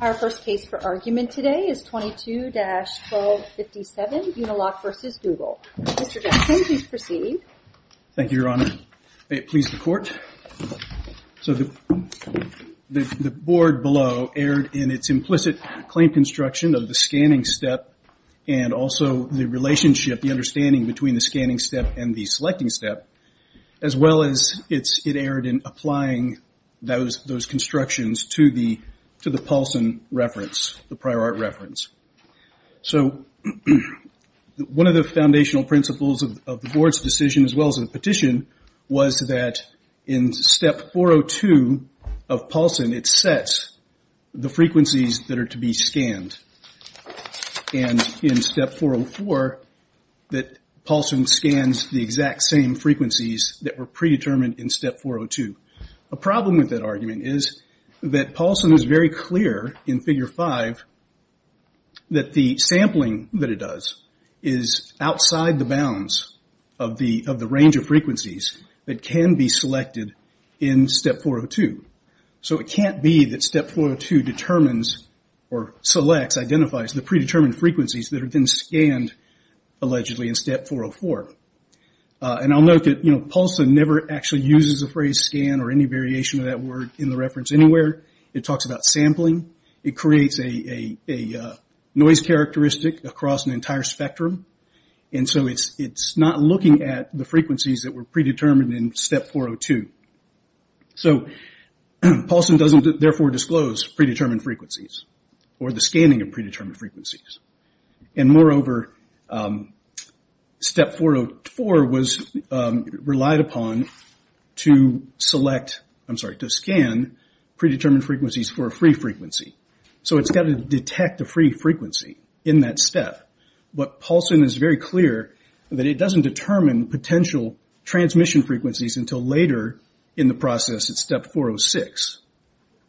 Our first case for argument today is 22-1257 Uniloc v. Google. Mr. Jackson, please proceed. Thank you, Your Honor. May it please the Court. So the board below erred in its implicit claim construction of the scanning step and also the relationship, the understanding between the scanning step and the selecting step, as well as it erred in applying those constructions to the Paulson reference, the prior art reference. So one of the foundational principles of the board's decision, as well as the petition, was that in Step 402 of Paulson, it sets the frequencies that are to be scanned. And in Step 404, that Paulson scans the exact same frequencies that were predetermined in Step 402. A problem with that argument is that Paulson is very clear in Figure 5 that the sampling that it does is outside the bounds of the range of frequencies that can be selected in Step 402. So it can't be that Step 402 determines or selects, identifies the predetermined frequencies that have been scanned, allegedly, in Step 404. And I'll note that Paulson never actually uses the phrase scan or any variation of that word in the reference anywhere. It talks about sampling. It creates a noise characteristic across an entire spectrum. And so it's not looking at the frequencies that were predetermined in Step 402. So Paulson doesn't, therefore, disclose predetermined frequencies or the scanning of predetermined frequencies. And moreover, Step 404 was relied upon to select, I'm sorry, to scan predetermined frequencies for a free frequency. So it's got to detect a free frequency in that step. But Paulson is very clear that it doesn't determine potential transmission frequencies until later in the process at Step 406.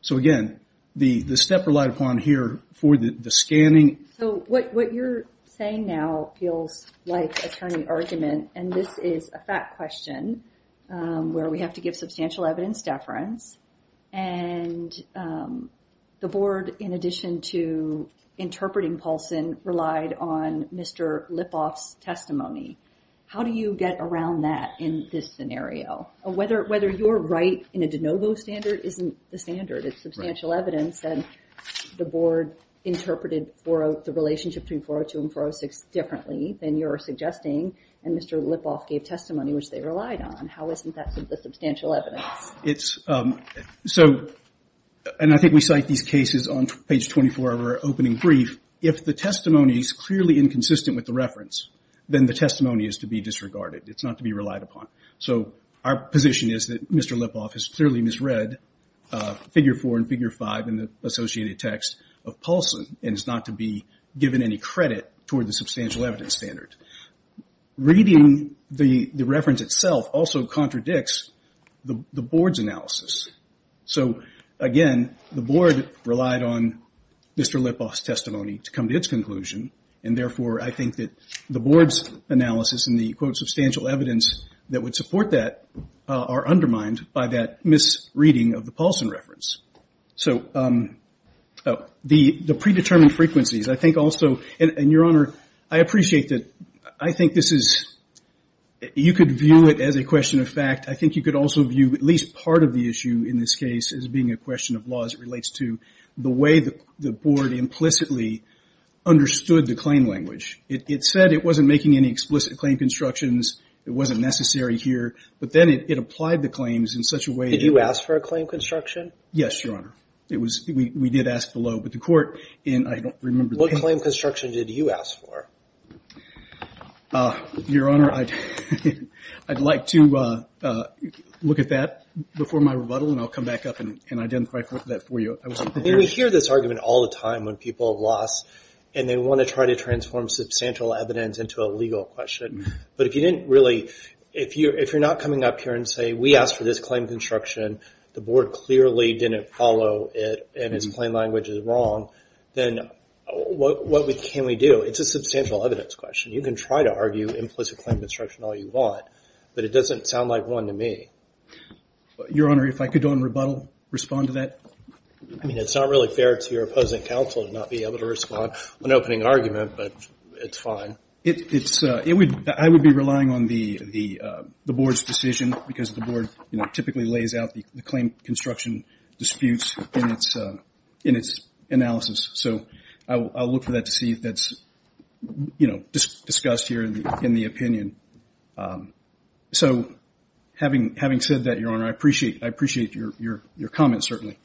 So again, the step relied upon here for the scanning. So what you're saying now feels like a turning argument. And this is a fact question where we have to give substantial evidence deference. And the Board, in addition to interpreting Paulson, relied on Mr. Lipoff's testimony. How do you get around that in this scenario? Whether you're right in a de novo standard isn't the standard. It's substantial evidence. And the Board interpreted the relationship between 402 and 406 differently than you're suggesting. And Mr. Lipoff gave testimony, which they relied on. How isn't that the substantial evidence? And I think we cite these cases on page 24 of our opening brief. If the testimony is clearly inconsistent with the reference, then the testimony is to be disregarded. It's not to be relied upon. So our position is that Mr. Lipoff has clearly misread Figure 4 and Figure 5 in the associated text of Paulson and is not to be given any credit toward the substantial evidence standard. Reading the reference itself also contradicts the Board's analysis. So again, the Board relied on Mr. Lipoff's testimony to come to its conclusion, and therefore I think that the Board's analysis and the, quote, substantial evidence that would support that are undermined by that misreading of the Paulson reference. So the predetermined frequencies, I think also, and, Your Honor, I appreciate that I think this is you could view it as a question of fact. I think you could also view at least part of the issue in this case as being a question of law as it relates to the way the Board implicitly understood the claim language. It said it wasn't making any explicit claim constructions. It wasn't necessary here, but then it applied the claims in such a way that Did you ask for a claim construction? Yes, Your Honor. We did ask below, but the court, and I don't remember the What claim construction did you ask for? Your Honor, I'd like to look at that before my rebuttal, and I'll come back up and identify that for you. We hear this argument all the time when people have lost and they want to try to transform substantial evidence into a legal question. But if you didn't really, if you're not coming up here and say, We asked for this claim construction. The Board clearly didn't follow it, and its claim language is wrong, then what can we do? It's a substantial evidence question. You can try to argue implicit claim construction all you want, but it doesn't sound like one to me. Your Honor, if I could, on rebuttal, respond to that. I mean, it's not really fair to your opposing counsel to not be able to respond to an opening argument, but it's fine. I would be relying on the Board's decision because the Board typically lays out the claim construction disputes in its analysis. So I'll look for that to see if that's discussed here in the opinion. So having said that, Your Honor, I appreciate your comment, certainly.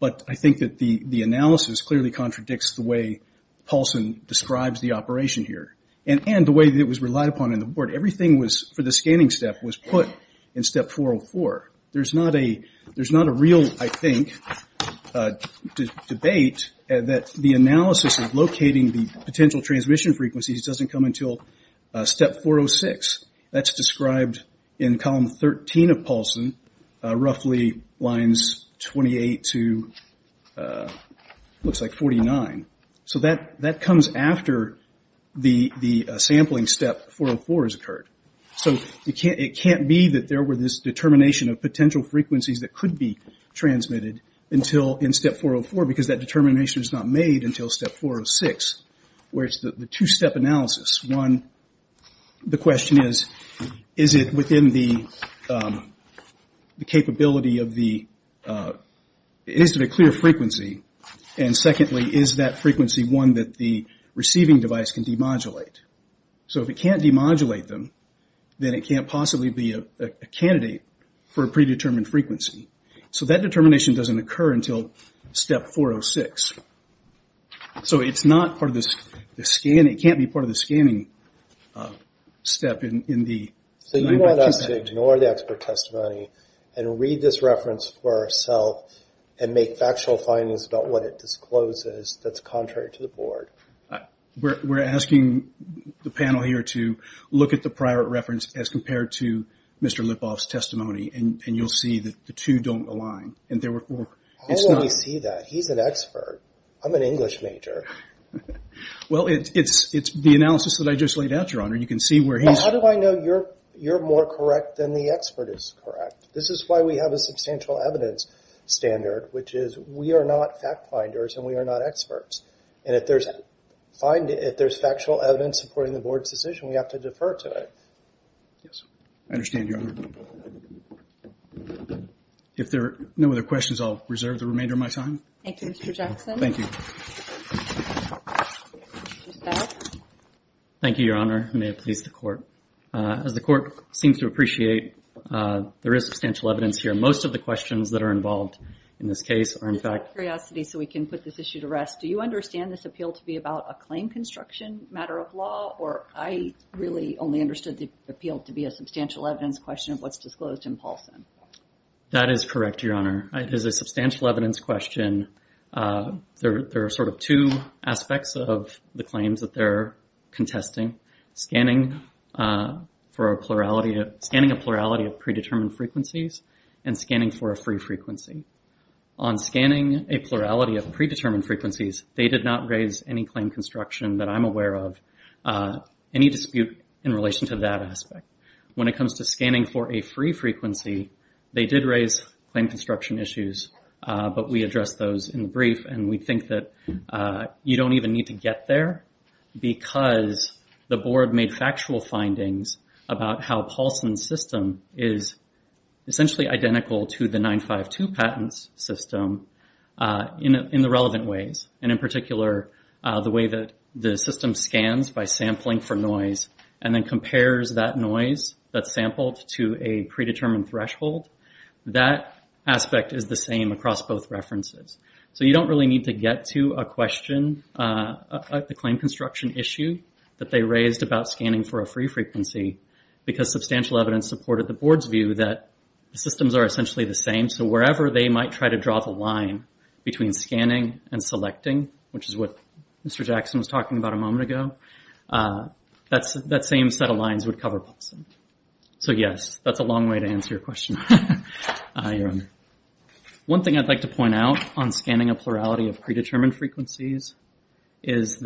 But I think that the analysis clearly contradicts the way Paulson describes the operation here and the way that it was relied upon in the Board. Everything for the scanning step was put in Step 404. There's not a real, I think, debate that the analysis of locating the potential transmission frequencies doesn't come until Step 406. That's described in Column 13 of Paulson, roughly lines 28 to 49. So that comes after the sampling step 404 has occurred. So it can't be that there were this determination of potential frequencies that could be transmitted in Step 404 because that determination is not made until Step 406, where it's the two-step analysis. One, the question is, is it a clear frequency? And secondly, is that frequency one that the receiving device can demodulate? So if it can't demodulate them, then it can't possibly be a candidate for a predetermined frequency. So that determination doesn't occur until Step 406. So it's not part of the scanning. It can't be part of the scanning step. So you want us to ignore the expert testimony and read this reference for ourself and make factual findings about what it discloses that's contrary to the Board? We're asking the panel here to look at the prior reference as compared to Mr. Lipov's testimony, and you'll see that the two don't align. How will we see that? He's an expert. I'm an English major. Well, it's the analysis that I just laid out, Your Honor, and you can see where he's... But how do I know you're more correct than the expert is correct? This is why we have a substantial evidence standard, which is we are not fact finders and we are not experts. And if there's factual evidence supporting the Board's decision, we have to defer to it. Yes, I understand, Your Honor. If there are no other questions, I'll reserve the remainder of my time. Thank you, Mr. Jackson. Thank you. Thank you, Your Honor, and may it please the Court. As the Court seems to appreciate, there is substantial evidence here. Most of the questions that are involved in this case are in fact... Just out of curiosity so we can put this issue to rest, do you understand this appeal to be about a claim construction matter of law, or I really only understood the appeal to be a substantial evidence question of what's disclosed in Paulson? That is correct, Your Honor. It is a substantial evidence question. There are sort of two aspects of the claims that they're contesting, scanning a plurality of predetermined frequencies and scanning for a free frequency. On scanning a plurality of predetermined frequencies, they did not raise any claim construction that I'm aware of, any dispute in relation to that aspect. When it comes to scanning for a free frequency, they did raise claim construction issues, but we addressed those in the brief, and we think that you don't even need to get there because the Board made factual findings about how Paulson's system is essentially identical to the 952 patent's system in the relevant ways, and in particular the way that the system scans by sampling for noise and then compares that noise that's sampled to a predetermined threshold. That aspect is the same across both references. So you don't really need to get to a question, a claim construction issue, that they raised about scanning for a free frequency because substantial evidence supported the Board's view that systems are essentially the same, so wherever they might try to draw the line between scanning and selecting, which is what Mr. Jackson was talking about a moment ago, that same set of lines would cover Paulson. So yes, that's a long way to answer your question. One thing I'd like to point out on scanning a plurality of predetermined frequencies and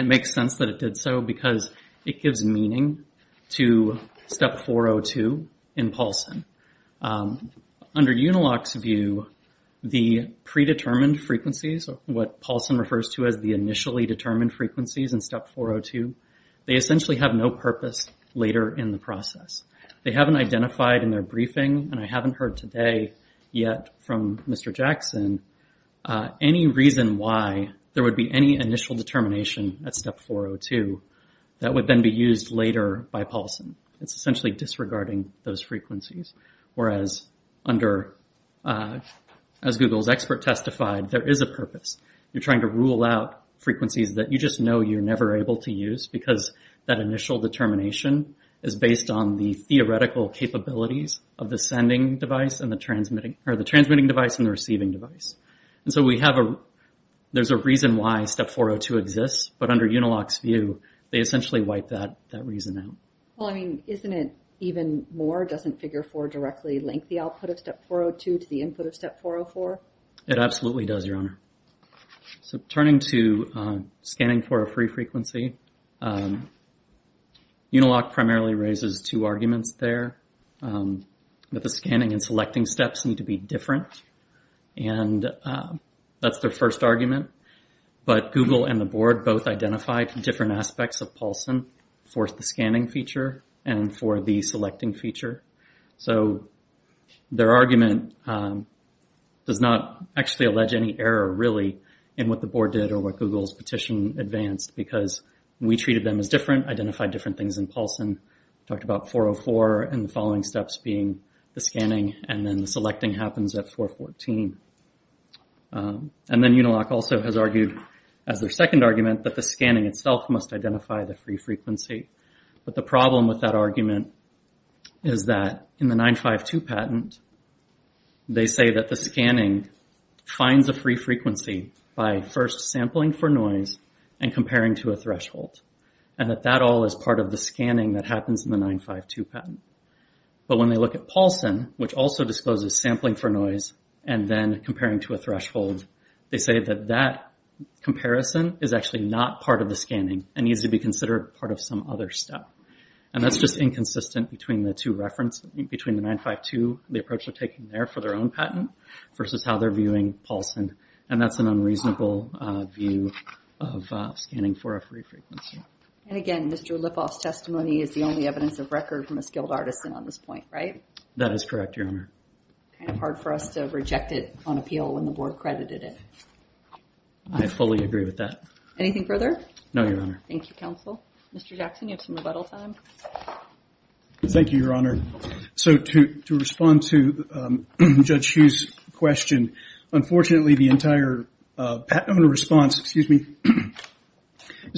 it makes sense that it did so because it gives meaning to Step 402 in Paulson. Under Unilock's view, the predetermined frequencies, what Paulson refers to as the initially determined frequencies in Step 402, they essentially have no purpose later in the process. They haven't identified in their briefing, and I haven't heard today yet from Mr. Jackson, any reason why there would be any initial determination at Step 402 that would then be used later by Paulson. It's essentially disregarding those frequencies, whereas under, as Google's expert testified, there is a purpose. You're trying to rule out frequencies that you just know you're never able to use because that initial determination is based on the theoretical capabilities of the transmitting device and the receiving device. And so there's a reason why Step 402 exists, but under Unilock's view, they essentially wipe that reason out. Well, I mean, isn't it even more? Doesn't Figure 4 directly link the output of Step 402 to the input of Step 404? It absolutely does, Your Honor. So turning to scanning for a free frequency, Unilock primarily raises two arguments there, that the scanning and selecting steps need to be different, and that's their first argument. But Google and the Board both identified different aspects of Paulson for the scanning feature and for the selecting feature. So their argument does not actually allege any error, really, in what the Board did or what Google's petition advanced because we treated them as different, identified different things in Paulson, talked about 404 and the following steps being the scanning, and then the selecting happens at 414. And then Unilock also has argued as their second argument that the scanning itself must identify the free frequency. But the problem with that argument is that in the 952 patent, they say that the scanning finds a free frequency by first sampling for noise and comparing to a threshold, and that that all is part of the scanning that happens in the 952 patent. But when they look at Paulson, which also discloses sampling for noise and then comparing to a threshold, they say that that comparison is actually not part of the scanning and needs to be considered part of some other step. And that's just inconsistent between the two references, between the 952, the approach they're taking there for their own patent, versus how they're viewing Paulson. And that's an unreasonable view of scanning for a free frequency. And again, Mr. Lipoff's testimony is the only evidence of record from a skilled artisan on this point, right? That is correct, Your Honor. Kind of hard for us to reject it on appeal when the Board credited it. I fully agree with that. Anything further? No, Your Honor. Thank you, Counsel. Mr. Jackson, you have some rebuttal time. Thank you, Your Honor. So to respond to Judge Hsu's question, unfortunately the entire patent owner response is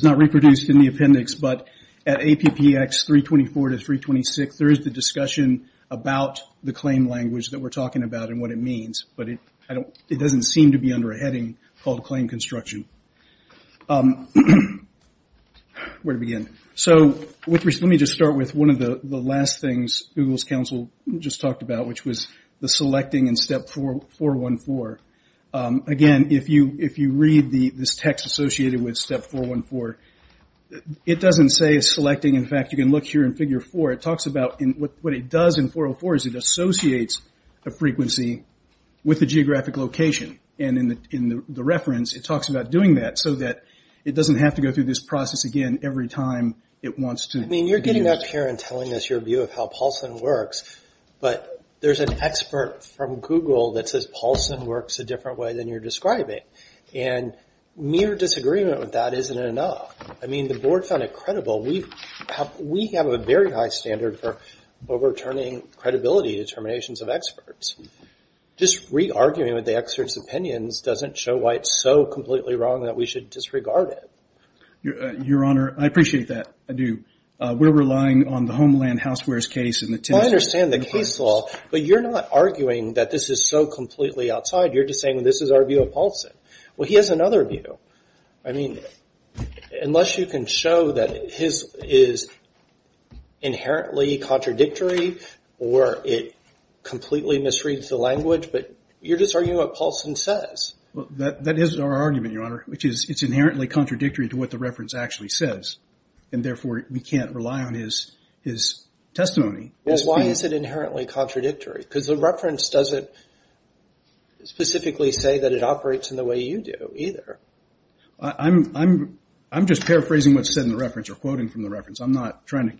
not reproduced in the appendix. But at APPX 324 to 326, there is the discussion about the claim language that we're talking about and what it means. But it doesn't seem to be under a heading called claim construction. Where to begin? So let me just start with one of the last things Google's counsel just talked about, which was the selecting in Step 414. Again, if you read this text associated with Step 414, it doesn't say selecting. In fact, you can look here in Figure 4. It talks about what it does in 404 is it associates a frequency with a geographic location. And in the reference, it talks about doing that so that it doesn't have to go through this process again every time it wants to. I mean, you're getting up here and telling us your view of how Paulson works, but there's an expert from Google that says Paulson works a different way than you're describing. And mere disagreement with that isn't enough. I mean, the Board found it credible. We have a very high standard for overturning credibility determinations of experts. Just re-arguing with the experts' opinions doesn't show why it's so completely wrong that we should disregard it. Your Honor, I appreciate that. I do. We're relying on the Homeland Housewares case. Well, I understand the case law, but you're not arguing that this is so completely outside. You're just saying this is our view of Paulson. Well, he has another view. I mean, unless you can show that his is inherently contradictory or it completely misreads the language, but you're just arguing what Paulson says. Well, that is our argument, Your Honor, which is it's inherently contradictory to what the reference actually says, and therefore we can't rely on his testimony. Well, why is it inherently contradictory? Because the reference doesn't specifically say that it operates in the way you do either. I'm just paraphrasing what's said in the reference or quoting from the reference. I'm not trying to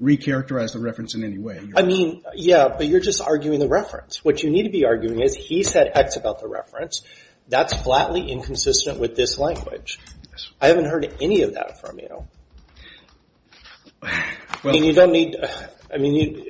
re-characterize the reference in any way. I mean, yeah, but you're just arguing the reference. What you need to be arguing is he said X about the reference. That's flatly inconsistent with this language. I haven't heard any of that from you. I mean, you don't need to. I mean,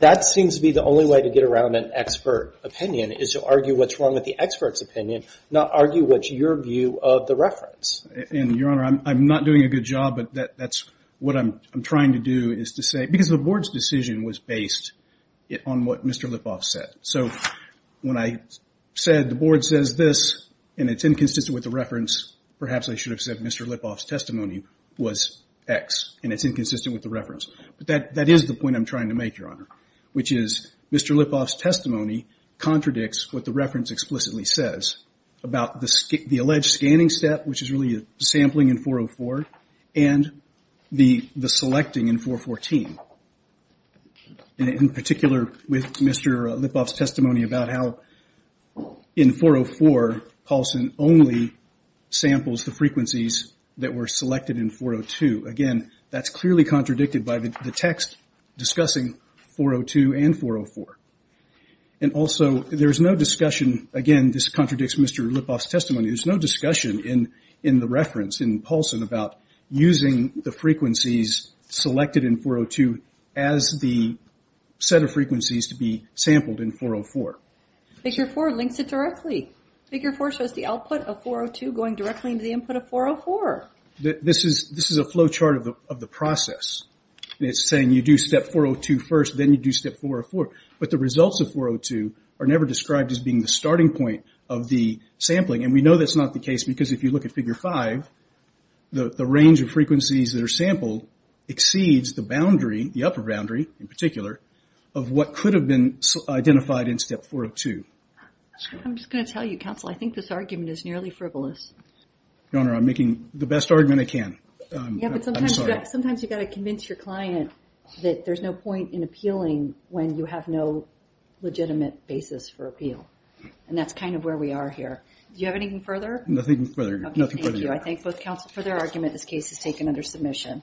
that seems to be the only way to get around an expert opinion is to argue what's wrong with the expert's opinion, not argue what's your view of the reference. And, Your Honor, I'm not doing a good job, but that's what I'm trying to do is to say, because the Board's decision was based on what Mr. Lipoff said. So when I said the Board says this and it's inconsistent with the reference, perhaps I should have said Mr. Lipoff's testimony was X and it's inconsistent with the reference. But that is the point I'm trying to make, Your Honor, which is Mr. Lipoff's testimony contradicts what the reference explicitly says about the alleged scanning step, which is really sampling in 404, and the selecting in 414. In particular, with Mr. Lipoff's testimony about how in 404, Paulson only samples the frequencies that were selected in 402. Again, that's clearly contradicted by the text discussing 402 and 404. And also, there's no discussion, again, this contradicts Mr. Lipoff's testimony, there's no discussion in the reference in Paulson about using the frequencies selected in 402 as the set of frequencies to be sampled in 404. Figure 4 links it directly. Figure 4 shows the output of 402 going directly into the input of 404. This is a flow chart of the process. It's saying you do step 402 first, then you do step 404. But the results of 402 are never described as being the starting point of the sampling, and we know that's not the case because if you look at Figure 5, the range of frequencies that are sampled exceeds the boundary, the upper boundary in particular, of what could have been identified in step 402. I'm just going to tell you, Counsel, I think this argument is nearly frivolous. Your Honor, I'm making the best argument I can. Yeah, but sometimes you've got to convince your client that there's no point in appealing when you have no legitimate basis for appeal, and that's kind of where we are here. Do you have anything further? Nothing further. Okay, thank you. I thank both counsel for their argument. This case is taken under submission.